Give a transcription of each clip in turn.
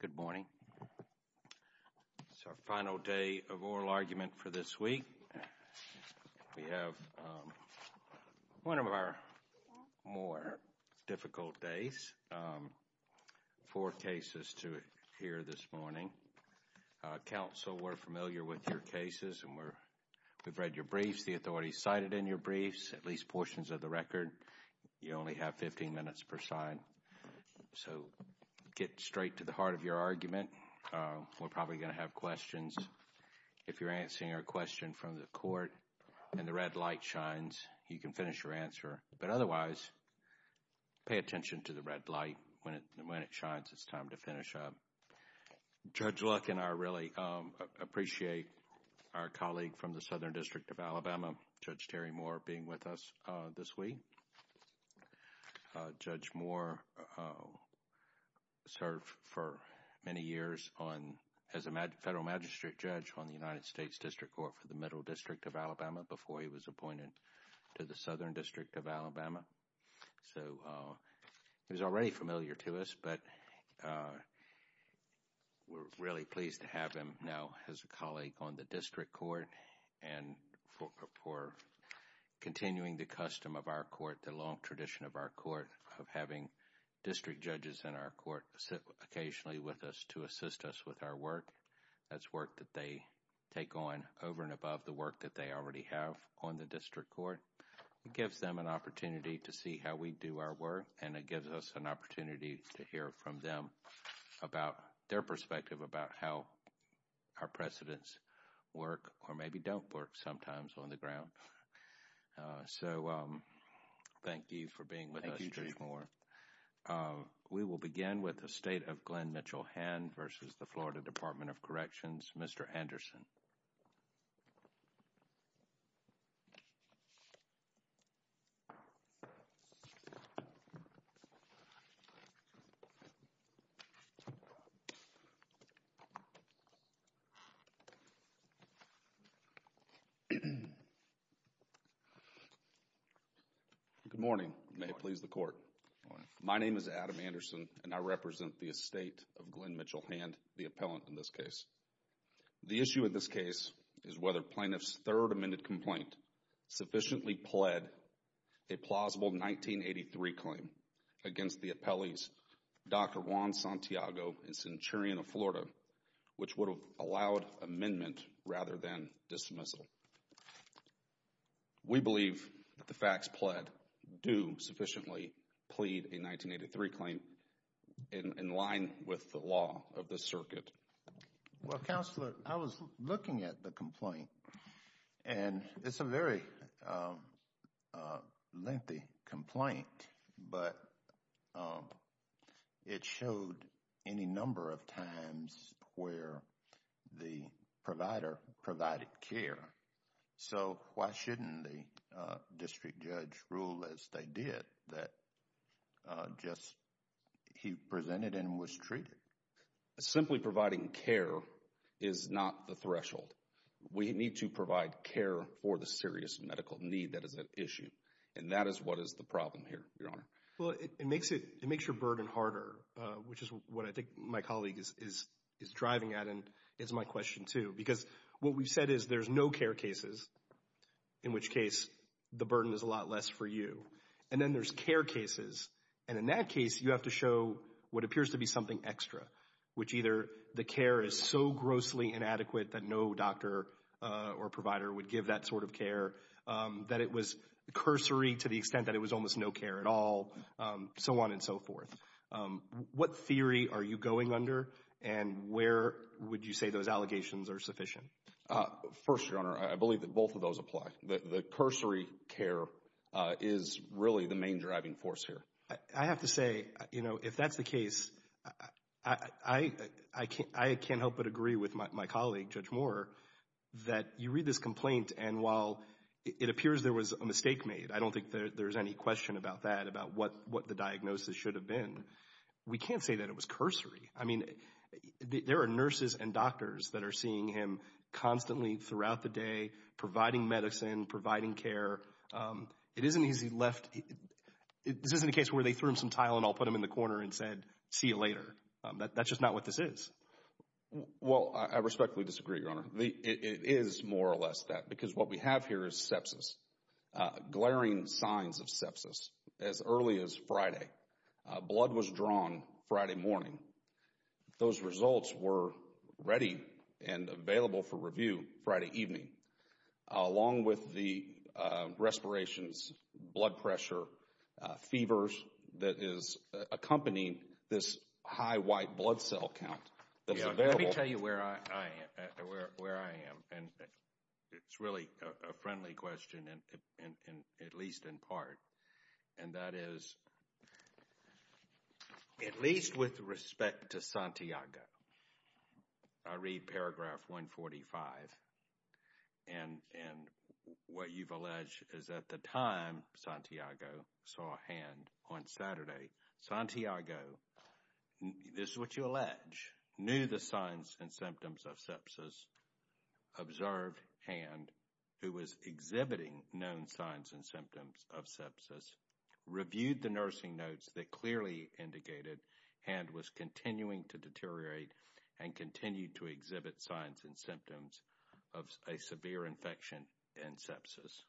Good morning. It's our final day of oral argument for this week. We have one of our more difficult days. Four cases to hear this morning. Counsel, we're familiar with your briefs. We've read your briefs. The authorities cited in your briefs, at least portions of the record. You only have 15 minutes per side. So get straight to the heart of your argument. We're probably going to have questions. If you're answering a question from the court and the red light shines, you can finish your answer. But otherwise, pay attention to the red light. When it shines, it's time to finish up. Judge Luck and I really appreciate our colleague from the Southern District of Alabama, Judge Terry Moore, being with us this week. Judge Moore served for many years as a federal magistrate judge on the United States District Court for the Middle District of Alabama before he was appointed to the Southern District of Alabama. So he's already familiar to us, but we're really pleased to have him now as a colleague on the District Court and for continuing the custom of our court, the long tradition of our court, of having district judges in our court sit occasionally with us to assist us with our work. That's work that they take on over and above the work that they already have on the District Court. It gives them an opportunity to see how we do our work and it gives us an opportunity to hear from them about their perspective about how our precedents work or maybe don't work sometimes on the ground. So thank you for being with us, Judge Moore. We will begin with the state of Glenn Mitchell Hand versus the Florida Department of Corrections, Mr. Anderson. Good morning. May it please the court. My name is Adam Anderson and I represent the appellant in this case. The issue in this case is whether plaintiff's third amended complaint sufficiently pled a plausible 1983 claim against the appellee's Dr. Juan Santiago and Centurion of Florida, which would have allowed amendment rather than dismissal. We believe that the facts pled do sufficiently plead a 1983 claim in line with the law of the circuit. Well, Counselor, I was looking at the complaint and it's a very lengthy complaint but it showed any number of times where the provider provided care. So why shouldn't the district judge rule as they did that just he presented and was treated? Simply providing care is not the threshold. We need to provide care for the serious medical need that is at issue and that is what is the problem here, Your Honor. Well, it makes it, it makes your burden harder, which is what I think my colleague is driving at and it's my question too because what we've said is there's no care cases in which case the burden is a lot less for you and then there's care cases and in that case you have to show what appears to be something extra, which either the care is so grossly inadequate that no doctor or provider would give that sort of care, that it was cursory to the extent that it was almost no care at all, so on and so forth. What theory are you going under and where would you say those allegations are sufficient? First, Your Honor, I believe that both of those apply. The cursory care is really the main driving force here. I have to say, you know, if that's the case, I can't help but agree with my colleague, Judge Moore, that you read this complaint and while it appears there was a mistake made, I don't think there's any question about that, about what the diagnosis should have been, we can't say that it was cursory. I mean, there are nurses and doctors that are seeing him constantly throughout the day, providing medicine, providing care. It isn't as if he left, this isn't a case where they threw him some tile and all put him in the corner and said, see you later. That's just not what this is. Well, I respectfully disagree, Your Honor. It is more or less that because what we have here is sepsis, glaring signs of sepsis as early as Friday. Blood was drawn Friday morning. Those results were ready and available for review Friday evening, along with the respirations, blood pressure, fevers that is accompanying this high white blood cell count. Let me tell you where I am and it's really a friendly question, at least in part, and that is, at least with respect to Santiago, I read paragraph 145 and what you've alleged is at the time Santiago saw a hand on sepsis, observed hand who was exhibiting known signs and symptoms of sepsis, reviewed the nursing notes that clearly indicated hand was continuing to deteriorate and continued to exhibit signs and symptoms of a severe infection and sepsis.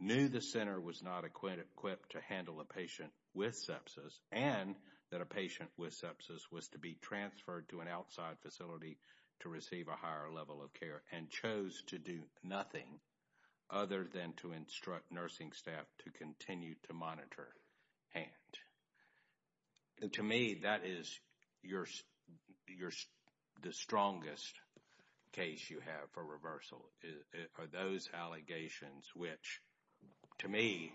Knew the center was not equipped to handle a patient with sepsis and that a patient with sepsis was to be transferred to an outside facility to receive a higher level of care and chose to do nothing other than to instruct nursing staff to continue to monitor hand. To me, that is the strongest case you have for reversal, are those allegations which to me,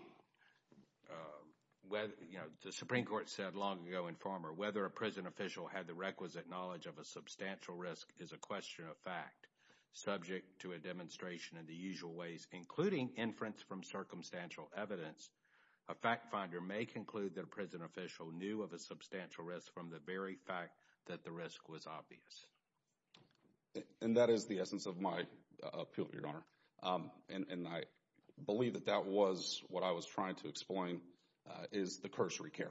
the Supreme Court said long ago in Farmer, whether a prison official had the requisite knowledge of a substantial risk is a question of fact. Subject to a demonstration in the usual ways, including inference from circumstantial evidence, a fact finder may conclude that a prison official knew of a substantial risk from the very fact that the risk was obvious. And that is the essence of my appeal, Your Honor, and I believe that that was what I was trying to explain is the cursory care.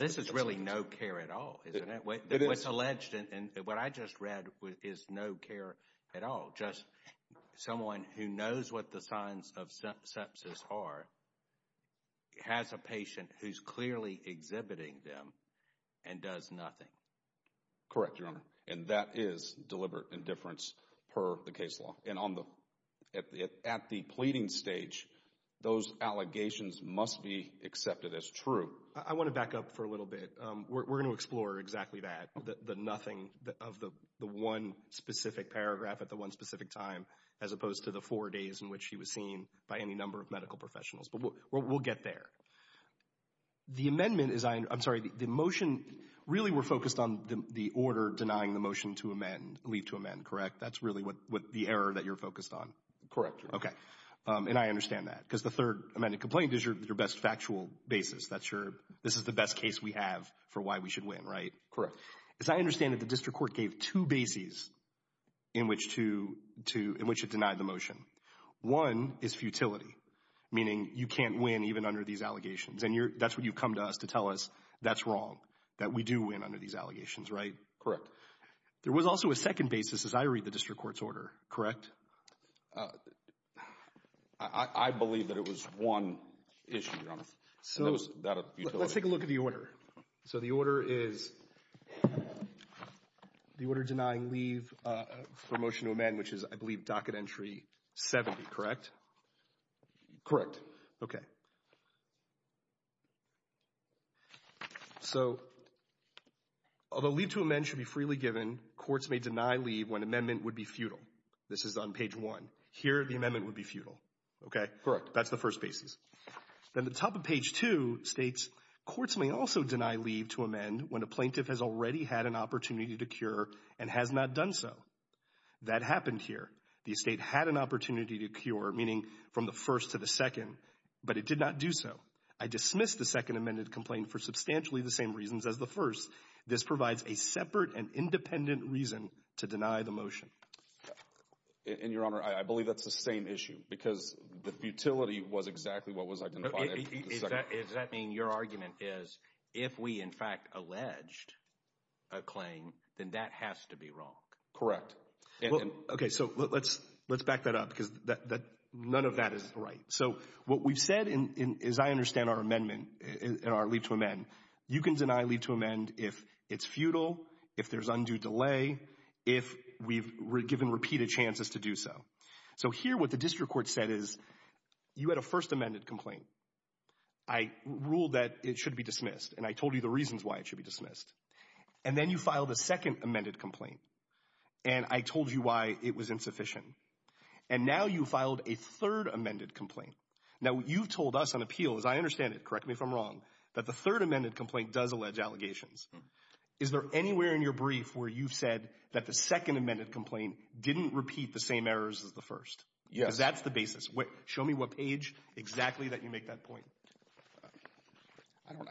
This is really no care at all, isn't it? What's alleged and what I just read is no care at all. Just someone who knows what the signs of sepsis are has a patient who's clearly exhibiting them and does nothing. Correct, Your Honor, and that is deliberate indifference per the case law. And at the pleading stage, those allegations must be accepted as true. I want to back up for a little bit. We're going to explore exactly that, the nothing of the one specific paragraph at the one specific time, as opposed to the four days in which he was seen by any number of medical professionals, but we'll get there. The amendment is, I'm sorry, the motion, really we're focused on the order denying the motion to amend, leave to amend, correct? That's really what the error that you're focused on? Correct, Your Honor. Okay, and I understand that because the third amended complaint is your best factual basis. That's your, this is the best case we have for why we should win, right? Correct. As I understand it, the district court gave two bases in which to, in which it denied the motion. One is futility, meaning you can't win even under these allegations and that's what you've come to us to tell us that's wrong, that we do win under these allegations, right? Correct. There was also a second basis as I read the district court's order, correct? I believe that it was one issue, Your Honor. So let's take a look at the order. So the order is, the order denying leave for motion to amend, which is, I believe, docket entry 70, correct? Correct. Okay. So, although leave to amend should be freely given, courts may deny leave when amendment would be futile. This is on page one. Here, the amendment would be futile, okay? Correct. That's the first basis. Then the top of page two states, courts may also deny leave to amend when a plaintiff has already had an opportunity to cure and has not done so. That happened here. The estate had an opportunity for a second but it did not do so. I dismiss the second amended complaint for substantially the same reasons as the first. This provides a separate and independent reason to deny the motion. And, Your Honor, I believe that's the same issue because the futility was exactly what was identified. Does that mean your argument is if we, in fact, alleged a claim, then that has to be wrong? Correct. Okay. So let's back that up because none of that is right. What we've said, as I understand our amendment, our leave to amend, you can deny leave to amend if it's futile, if there's undue delay, if we've given repeated chances to do so. So here, what the district court said is you had a first amended complaint. I ruled that it should be dismissed, and I told you the reasons why it should be dismissed. And then you filed a second amended complaint, and I told you why it was insufficient. And now you filed a third amended complaint. Now, what you've told us on appeal, as I understand it, correct me if I'm wrong, that the third amended complaint does allege allegations. Is there anywhere in your brief where you've said that the second amended complaint didn't repeat the same errors as the first? Yes. Because that's the basis. Show me what page exactly that you make that point.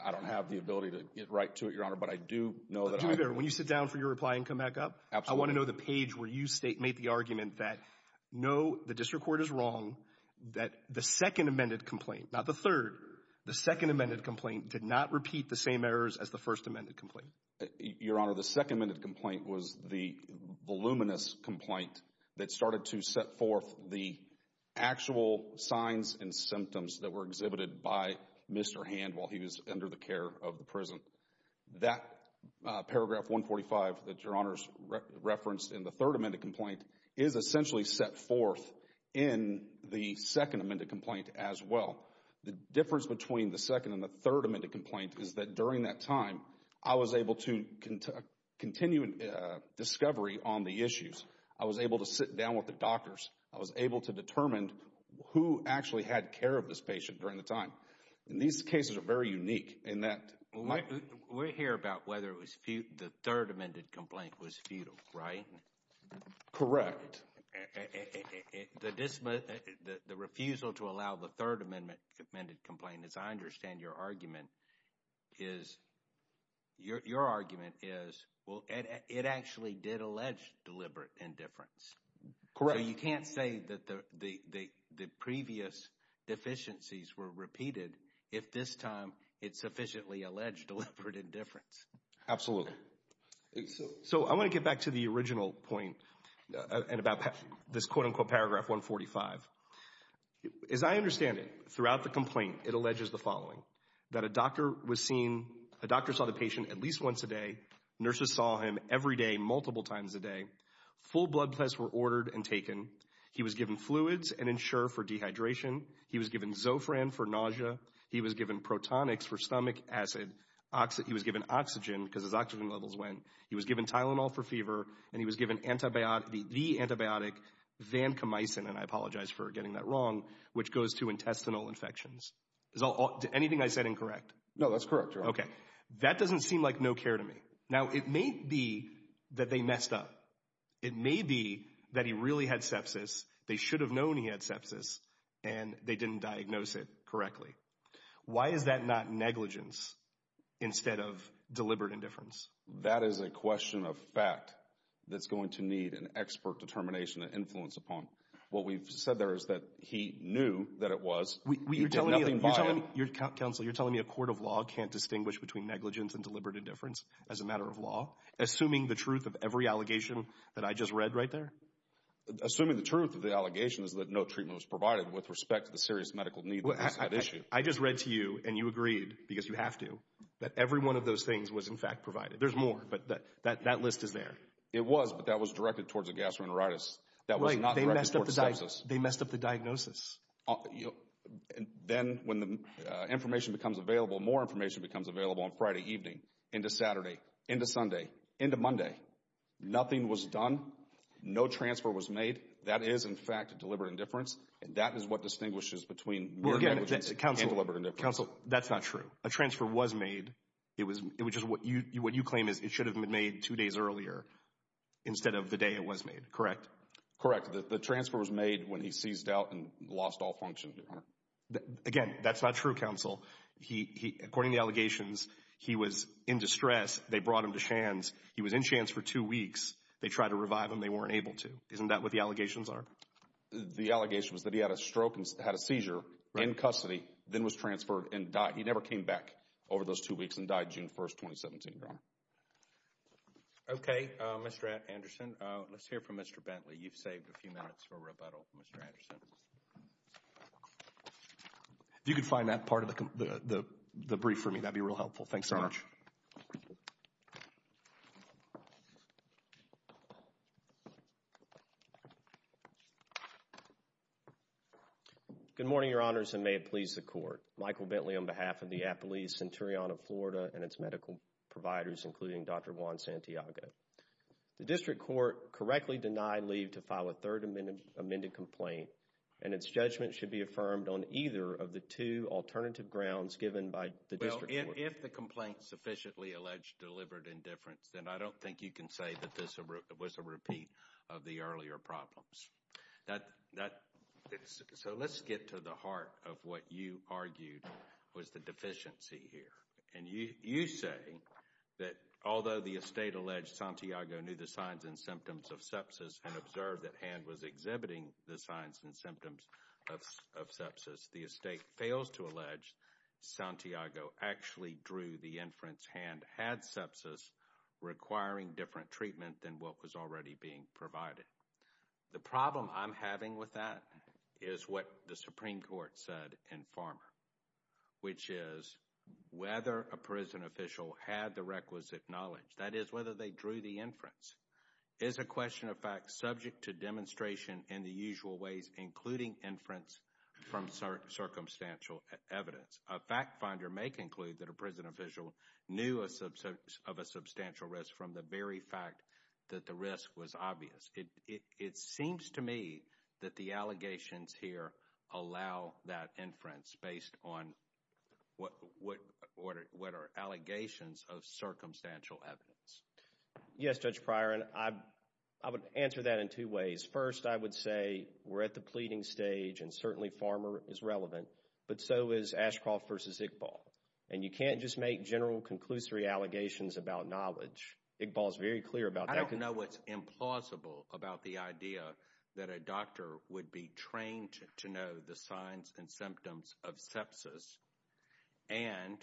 I don't have the ability to get down for your reply and come back up. I want to know the page where you make the argument that no, the district court is wrong, that the second amended complaint, not the third, the second amended complaint did not repeat the same errors as the first amended complaint. Your Honor, the second amended complaint was the voluminous complaint that started to set forth the actual signs and symptoms that were exhibited by Mr. Hand while he was under the care of the patient during the time. These cases are very unique. We hear about whether it was the third amended complaint was futile, right? Correct. The refusal to allow the third amended complaint, as I understand your argument, is, your argument is, well, it actually did allege deliberate indifference. Correct. So you can't say that the previous deficiencies were repeated if this time it sufficiently alleged deliberate indifference. Absolutely. So I want to get back to the original point and about this quote unquote paragraph 145. As I understand it, throughout the complaint, it alleges the following, that a doctor was seen, a doctor saw the patient at least once a day, nurses saw him every day multiple times a day, full blood tests were ordered and taken, he was given fluids and Ensure for dehydration, he was given Zofran for nausea, he was given protonics for stomach acid, he was given oxygen because his oxygen levels went, he was given Tylenol for fever, and he was given the antibiotic Vancomycin, and I apologize for getting that wrong, which goes to intestinal infections. Is anything I said incorrect? No, that's correct. Okay, that doesn't seem like no care to me. Now, it may be that they messed up. It may be that he really had sepsis, they should have known he had sepsis, and they didn't diagnose it Is that not negligence instead of deliberate indifference? That is a question of fact that's going to need an expert determination to influence upon. What we've said there is that he knew that it was. You're telling me a court of law can't distinguish between negligence and deliberate indifference as a matter of law? Assuming the truth of every allegation that I just read right there? Assuming the truth of the allegation is that no treatment was provided with respect to the serious medical need that is that issue? I just read to you and you agreed, because you have to, that every one of those things was in fact provided. There's more, but that that list is there. It was, but that was directed towards a gastroenteritis. That was not directed towards sepsis. They messed up the diagnosis. Then when the information becomes available, more information becomes available on Friday evening into Saturday, into Sunday, into Monday. Nothing was done. No transfer was made. That is in fact a deliberate indifference, and that is what distinguishes between negligence and deliberate indifference. Counsel, that's not true. A transfer was made. It was, it was just what you, what you claim is it should have been made two days earlier instead of the day it was made, correct? Correct. The transfer was made when he seized out and lost all function. Again, that's not true, Counsel. According to the allegations, he was in distress. They brought him to Shands. He was in Shands for two weeks. They tried to revive him. They weren't able to. Isn't that what the allegations are? The allegation was that he had a stroke and had a seizure in custody, then was transferred and died. He never came back over those two weeks and died June 1, 2017. Okay, Mr. Anderson, let's hear from Mr. Bentley. You've saved a few minutes for rebuttal, Mr. Anderson. If you could find that part of the brief for me, that'd be real helpful. Thanks so much. Good morning, Your Honors, and may it please the Court. Michael Bentley on behalf of the Appalachian Centurion of Florida and its medical providers, including Dr. Juan Santiago. The District Court correctly denied leave to file a third amended complaint, and its judgment should be affirmed on either of the two alternative grounds given by the District Court. Well, if the complaint sufficiently alleged delivered indifference, then I don't think you can say that was a repeat of the earlier problems. So let's get to the heart of what you argued was the deficiency here. And you say that although the estate alleged Santiago knew the signs and symptoms of sepsis and observed that Hand was exhibiting the signs and symptoms of sepsis, the estate fails to allege Santiago actually drew the inference Hand had sepsis requiring different treatment than what was already being provided. The problem I'm having with that is what the Supreme Court said in Farmer, which is whether a prison official had the requisite knowledge, that is whether they drew the inference, is a question of fact subject to demonstration in the usual ways, including inference from circumstantial evidence. A fact finder may conclude that a prison official knew of a substantial risk from the very fact that the risk was obvious. It seems to me that the allegations here allow that inference based on what are allegations of circumstantial evidence. Yes, Judge Pryor, and I would answer that in two ways. First, I would say we're at the pleading stage, and certainly Farmer is relevant, but so is Ashcroft v. Iqbal. And you can't just make general conclusory allegations about knowledge. Iqbal is very clear about that. I don't know what's implausible about the idea that a doctor would be trained to know the signs and symptoms of sepsis and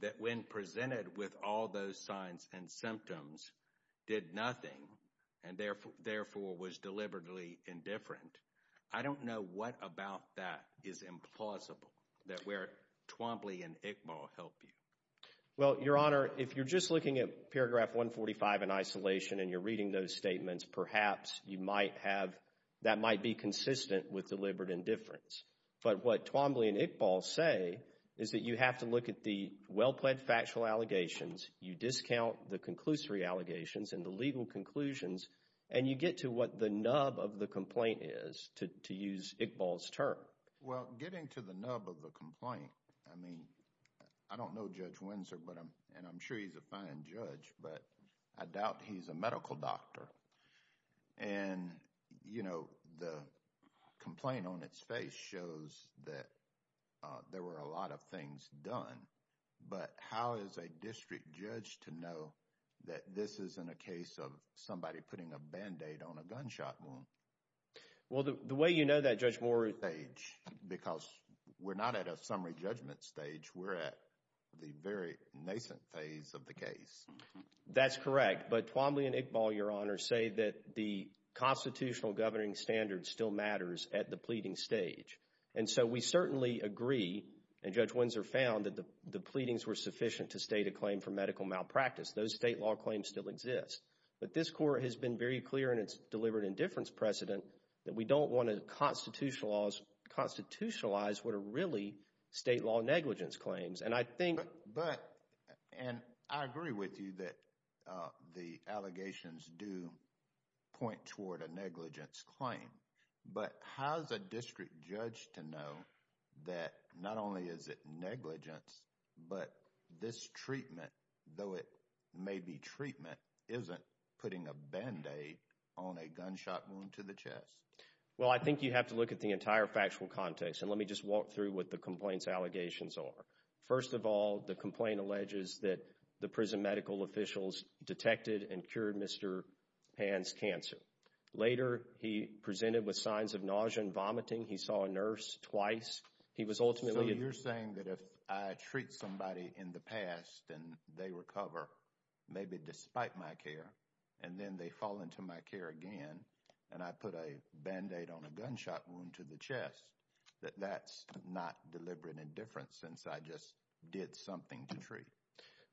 that when presented with all those signs and symptoms, did nothing and therefore was deliberately indifferent. I don't know what about that is implausible, that where Twombly and Iqbal help you. Well, Your Honor, if you're just looking at paragraph 145 in isolation and you're reading those statements, perhaps you might have, that might be consistent with deliberate indifference. But what Twombly and Iqbal say is that you have to look at the and you get to what the nub of the complaint is, to use Iqbal's term. Well, getting to the nub of the complaint, I mean, I don't know Judge Windsor, and I'm sure he's a fine judge, but I doubt he's a medical doctor. And, you know, the complaint on its face shows that there were a lot of things done, but how is a district judge to know that this isn't a case of somebody putting a band-aid on a gunshot wound? Well, the way you know that, Judge Moore, because we're not at a summary judgment stage, we're at the very nascent phase of the case. That's correct, but Twombly and Iqbal, Your Honor, say that the constitutional governing standards still matters at the pleading stage. And so we certainly agree, and Judge Windsor found, that the pleadings were sufficient to state a claim for medical malpractice. Those state law claims still exist. But this Court has been very clear in its deliberate indifference precedent that we don't want to constitutionalize what are really state law negligence claims. And I think... But, and I agree with you that the allegations do point toward a negligence claim, but how is a district judge to know that not only is it negligence, but this treatment, though it may be treatment, isn't putting a band-aid on a gunshot wound to the chest? Well, I think you have to look at the entire factual context, and let me just walk through what the complaint's allegations are. First of all, the complaint alleges that the prison medical officials detected and cured Mr. Pan's cancer. Later, he presented with signs of nausea and vomiting. He saw a nurse twice. He was ultimately... So you're saying that if I treat somebody in the past and they recover, maybe despite my care, and then they fall into my care again, and I put a band-aid on a gunshot wound to the chest, that that's not deliberate indifference since I just did something to treat?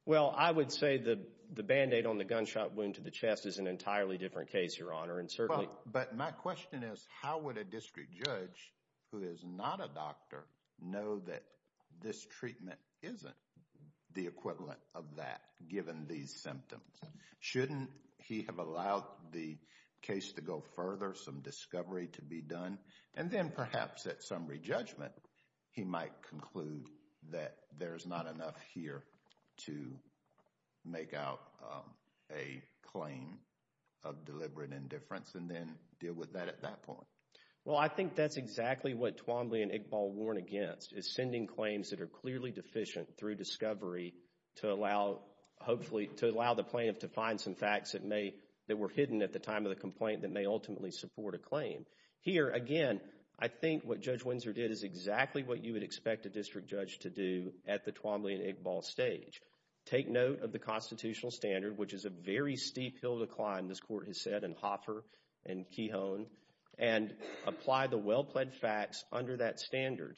Well, I would say the band-aid on the gunshot wound to the chest is an entirely different case, Your Honor, and certainly... But my question is, how would a district judge who is not a doctor know that this treatment isn't the equivalent of that, given these symptoms? Shouldn't he have allowed the case to go further, some discovery to be done, and then perhaps at some re-judgment, he might conclude that there's not enough here to make out a claim of deliberate indifference and then deal with that at that point? Well, I think that's exactly what Twombly and Iqbal warn against, is sending claims that are clearly deficient through discovery to allow, hopefully, to allow the plaintiff to find some facts that may... Here, again, I think what Judge Windsor did is exactly what you would expect a district judge to do at the Twombly and Iqbal stage. Take note of the constitutional standard, which is a very steep hill to climb, this Court has said, in Hoffer and Kehon, and apply the well-plaid facts under that standard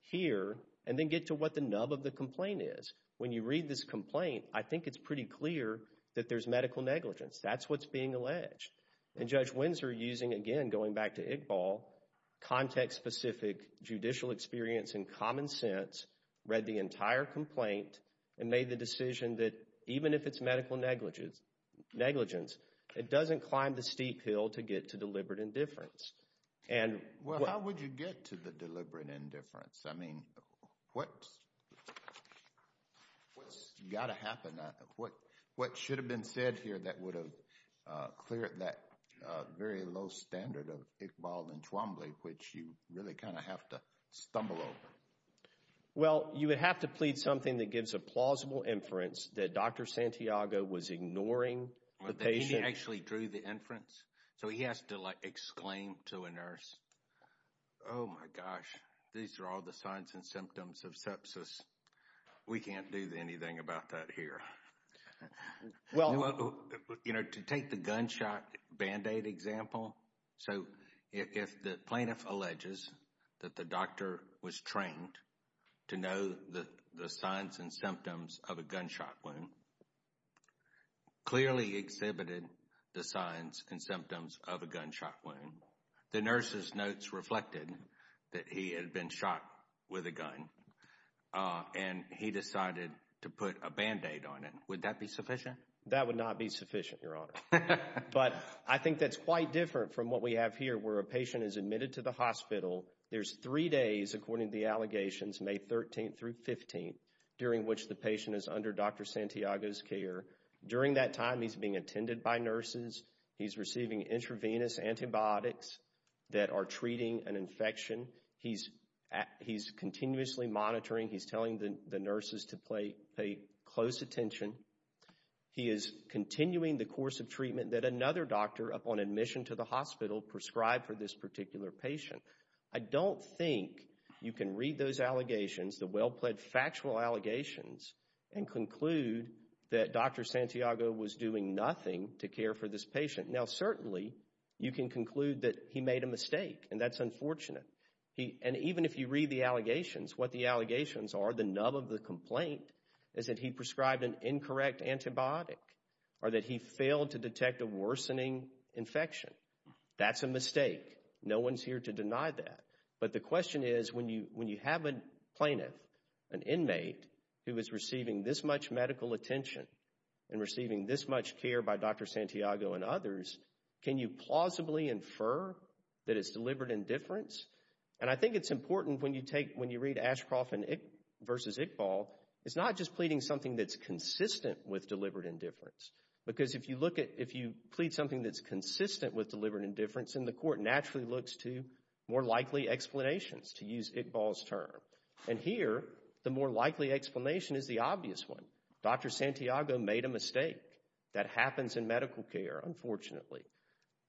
here, and then get to what the nub of the complaint is. When you read this complaint, I think it's pretty clear that there's medical negligence. That's what's being alleged, and Judge Windsor using, again, going back to Iqbal, context-specific judicial experience and common sense, read the entire complaint, and made the decision that even if it's medical negligence, it doesn't climb the steep hill to get to deliberate indifference. Well, how would you get to the deliberate indifference? I mean, what's got to happen? What should have been said here that would have cleared that very low standard of Iqbal and Twombly, which you really kind of have to stumble over? Well, you would have to plead something that gives a plausible inference that Dr. Santiago was ignoring the patient. He actually drew the inference, so he has to like exclaim to a nurse, oh my gosh, these are all the signs and symptoms of sepsis. We can't do anything about that here. Well, you know, to take the gunshot Band-Aid example, so if the plaintiff alleges that the doctor was trained to know the signs and symptoms of a gunshot wound, clearly exhibited the signs and symptoms of a gunshot wound. The nurse's notes reflected that he had been shot with a gun, and he decided to put a Band-Aid on it. Would that be sufficient? That would not be sufficient, Your Honor. But I think that's quite different from what we have here, where a patient is admitted to the hospital. There's three days, according to the allegations, May 13th through 15th, during which the patient is under Dr. Santiago's care. During that time, he's being attended by nurses. He's receiving intravenous antibiotics that are treating an infection. He's continuously monitoring. He's telling the nurses to pay close attention. He is continuing the course of treatment that another doctor, upon admission to the hospital, prescribed for this particular patient. I don't think you can read those allegations, the well-pledged factual allegations, and conclude that Dr. Santiago was doing nothing to care for this patient. Now, certainly, you can conclude that he made a mistake, and that's unfortunate. And even if you read the allegations, what the allegations are, the nub of the complaint, is that he prescribed an incorrect antibiotic, or that he failed to detect a worsening infection. That's a mistake. No one's here to deny that. But the question is, when you have a plaintiff, an inmate, who is receiving this much medical attention, and receiving this much care by Dr. Santiago and others, can you plausibly infer that it's deliberate indifference? And I think it's important when you take, when you read Ashcroft versus Iqbal, it's not just pleading something that's consistent with deliberate indifference. Because if you look at, if you plead something that's consistent with deliberate indifference, then the court naturally looks to more likely explanations, to use Iqbal's term. And here, the more likely explanation is the obvious one. Dr. Santiago made a mistake. That happens in medical care, unfortunately.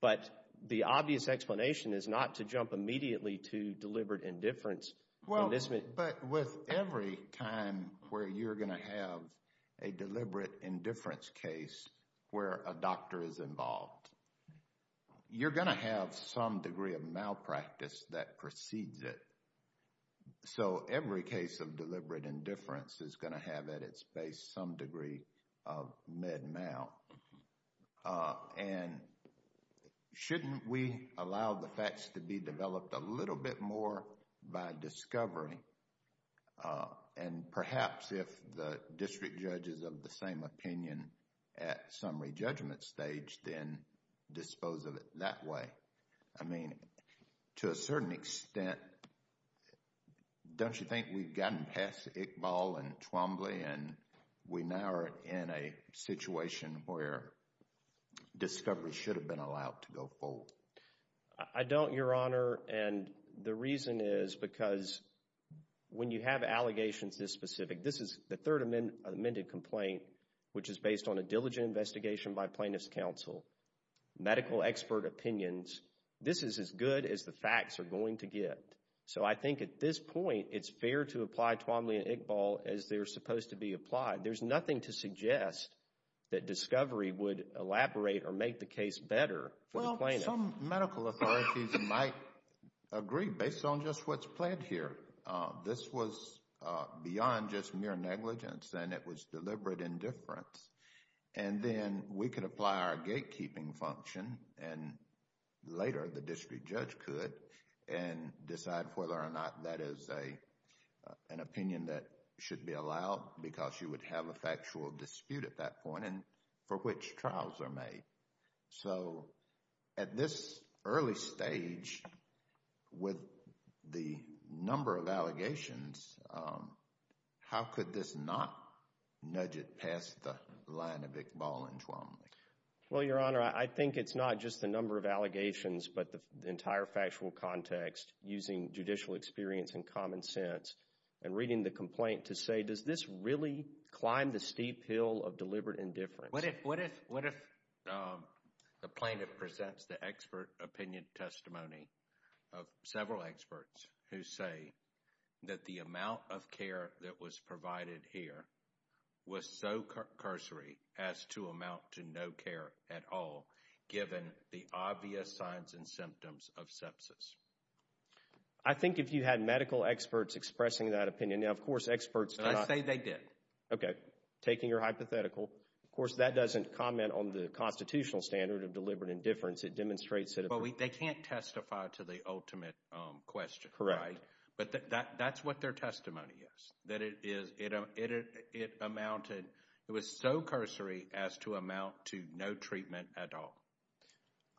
But the obvious explanation is not to jump immediately to deliberate indifference. Well, but with every time where you're going to have a deliberate indifference case, where a doctor is involved, you're going to have some degree of malpractice that precedes it. So every case of deliberate indifference is going to have at its base some degree of med mal. And shouldn't we allow the facts to be developed a little bit more by discovery? And perhaps if the district judge is of the same opinion at summary judgment stage, then dispose of it that way. I mean, to a certain extent, don't you think we've gotten past Iqbal and Twombly and we now are in a situation where discovery should have been allowed to go full? I don't, Your Honor. And the reason is because when you have allegations this specific, this is the third amended complaint, which is based on a diligent investigation by Plaintiff's counsel, medical expert opinions, this is as good as the facts are going to get. So I think at this point, it's fair to apply Twombly and Iqbal as they're supposed to be applied. There's nothing to suggest that discovery would elaborate or make the case better for the plaintiff. Well, some medical authorities might agree based on just what's pled here. This was beyond just mere gatekeeping function and later the district judge could and decide whether or not that is an opinion that should be allowed because you would have a factual dispute at that point and for which trials are made. So at this early stage with the number of allegations, how could this not nudge it past the line of Iqbal and Twombly? Well, Your Honor, I think it's not just the number of allegations but the entire factual context using judicial experience and common sense and reading the complaint to say does this really climb the steep hill of deliberate indifference? What if the plaintiff presents the expert opinion testimony of several experts who say that the amount of care that was provided here was so cursory as to amount to no care at all given the obvious signs and symptoms of sepsis? I think if you had medical experts expressing that opinion, now of course experts... And I say they did. Okay, taking your hypothetical, of course that doesn't comment on the constitutional standard of deliberate indifference. But they can't testify to the ultimate question, right? Correct. But that's what their testimony is, that it was so cursory as to amount to no treatment at all.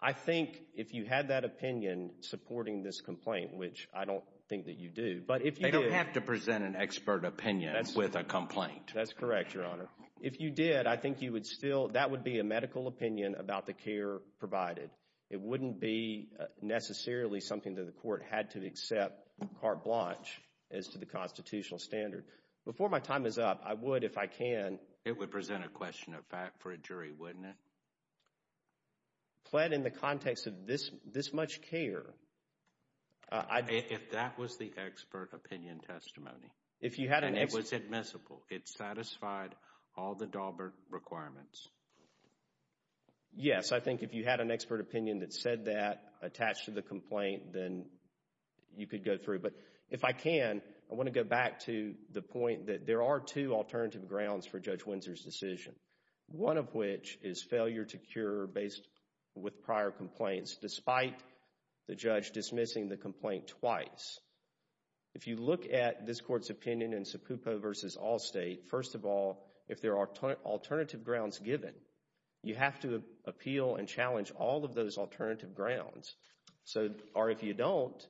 I think if you had that opinion supporting this complaint, which I don't think that you do, but if you... They don't have to present an expert opinion with a complaint. That's correct, Your Honor. If you did, I think that would be a medical opinion about the care provided. It wouldn't be necessarily something that the court had to accept carte blanche as to the constitutional standard. Before my time is up, I would, if I can... It would present a question of fact for a jury, wouldn't it? Pled in the context of this much care... If that was the expert opinion testimony. If you had an... And it was admissible. It satisfied all the Dahlberg requirements. Yes, I think if you had an expert opinion that said that attached to the complaint, then you could go through. But if I can, I want to go back to the point that there are two alternative grounds for Judge Windsor's decision. One of which is failure to cure based with prior complaints, despite the judge dismissing the complaint twice. If you look at this court's opinion in Sapupo v. Allstate, first of all, if there are alternative grounds given, you have to appeal and challenge all of those alternative grounds. Or if you don't,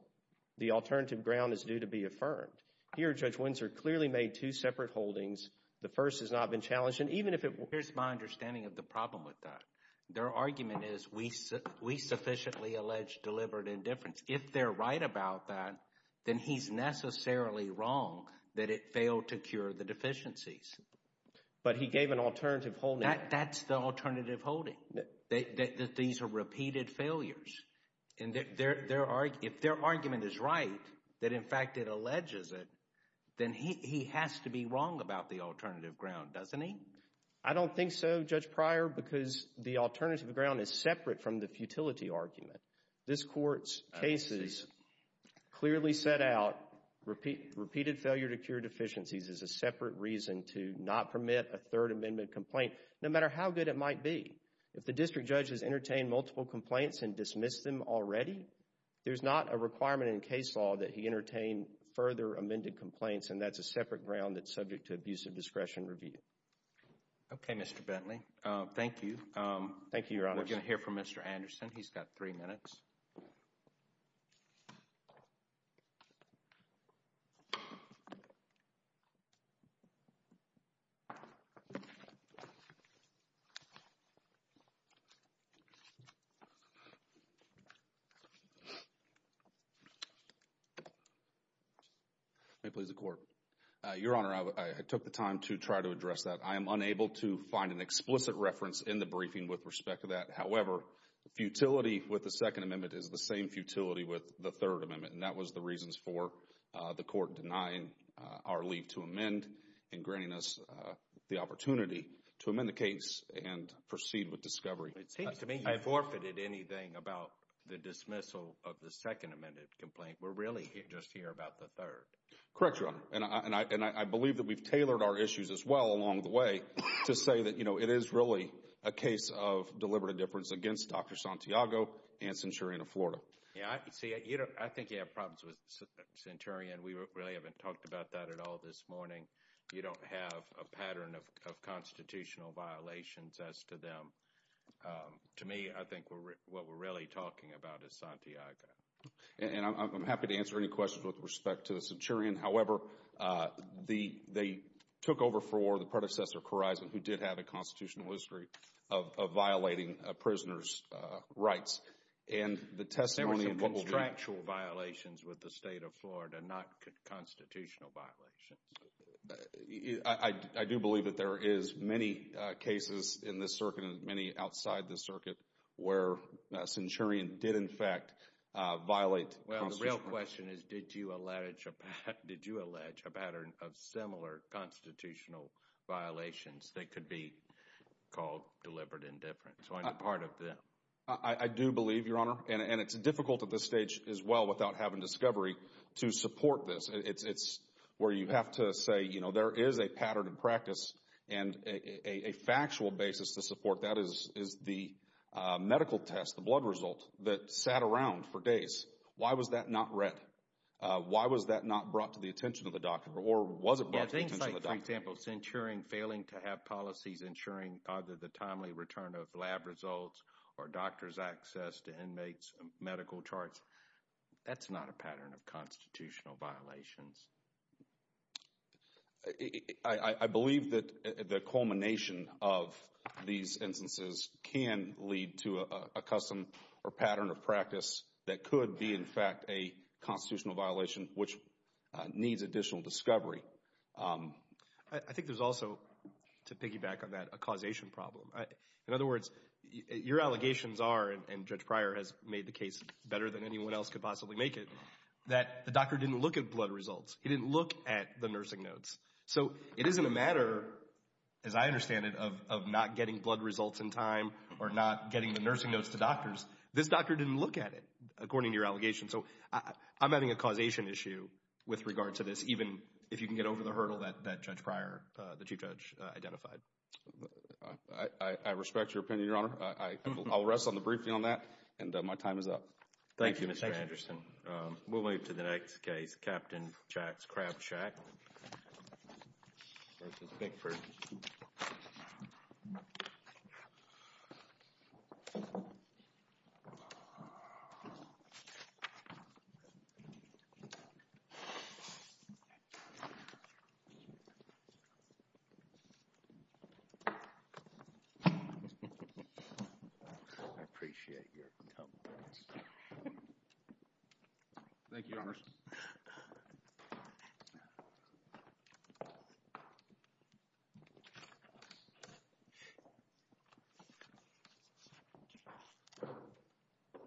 the alternative ground is due to be affirmed. Here, Judge Windsor clearly made two separate holdings. The first has not been challenged. And even if it... Here's my understanding of the problem with that. Their argument is we sufficiently allege delivered indifference. If they're right about that, then he's necessarily wrong that it failed to cure the deficiencies. But he gave an alternative holding. That's the alternative holding. These are repeated failures. And if their argument is right, that in fact it alleges it, then he has to be wrong about the alternative ground, doesn't he? I don't think so, Judge Pryor, because the alternative ground is separate from the futility argument. This court's cases clearly set out repeated failure to cure deficiencies as a separate reason to not permit a third amendment complaint, no matter how good it might be. If the district judge has entertained multiple complaints and dismissed them already, there's not a requirement in case law that he entertain further amended complaints. And that's a separate ground that's subject to abusive discretion review. Okay, Mr. Bentley. Thank you. Thank you, Your Honor. We're going to hear from Mr. Anderson. He's got three minutes. May it please the Court. Your Honor, I took the time to try to address that. I am unable to find an explicit reference in the briefing with respect to that. However, the futility with the second amendment is the same futility with the third amendment. And that was the reasons for the court denying our leave to amend and granting us the opportunity to amend the case and proceed with discovery. It seems to me I forfeited anything about the dismissal of the second amended complaint. We're really just here about the third. Correct, Your Honor. And I believe that we've tailored our issues as well along the way to say that, you know, it is really a case of deliberative difference against Dr. Santiago and Centurion of Florida. See, I think you have problems with Centurion. We really haven't talked about that at all this morning. You don't have a pattern of constitutional violations as to them. To me, I think what we're really talking about is Santiago. And I'm happy to answer any questions with respect to the Centurion. However, they took over for the predecessor, Corizon, who did have a constitutional history of violating a prisoner's and the testimony. There were some contractual violations with the state of Florida, not constitutional violations. I do believe that there is many cases in this circuit and many outside the circuit where Centurion did, in fact, violate. Well, the real question is, did you allege, did you allege a pattern of similar constitutional violations that could be called deliberate indifference? So, I'm a part of that. I do believe, Your Honor. And it's difficult at this stage as well without having discovery to support this. It's where you have to say, you know, there is a pattern in practice and a factual basis to support that is the medical test, the blood result that sat around for days. Why was that not read? Why was that not brought to the attention of the doctor or was it brought to the attention of the doctor? Yeah, things like, for example, Centurion failing to have policies ensuring either the timely return of lab results or doctor's access to inmates' medical charts. That's not a pattern of constitutional violations. I believe that the culmination of these instances can lead to a custom or pattern of practice that could be, in fact, a constitutional violation which needs additional discovery. I think there's also, to piggyback on that, a causation problem. In other words, your allegations are, and Judge Pryor has made the case better than anyone else could possibly make it, that the doctor didn't look at blood results. He didn't look at the nursing notes. So, it isn't a matter, as I understand it, of not getting blood results in time or not getting the nursing notes to doctors. This doctor didn't look at it, according to your allegation. So, I'm having a causation issue with regard to this, even if you can get over the hurdle that Judge Pryor, the Chief Judge, identified. I respect your opinion, Your Honor. I'll rest on the briefing on that and my time is up. Thank you, Mr. Anderson. We'll move to the next case, Captain Jax Crabshack v. Bigford. I appreciate your help. Thank you, Your Honor. Thank you.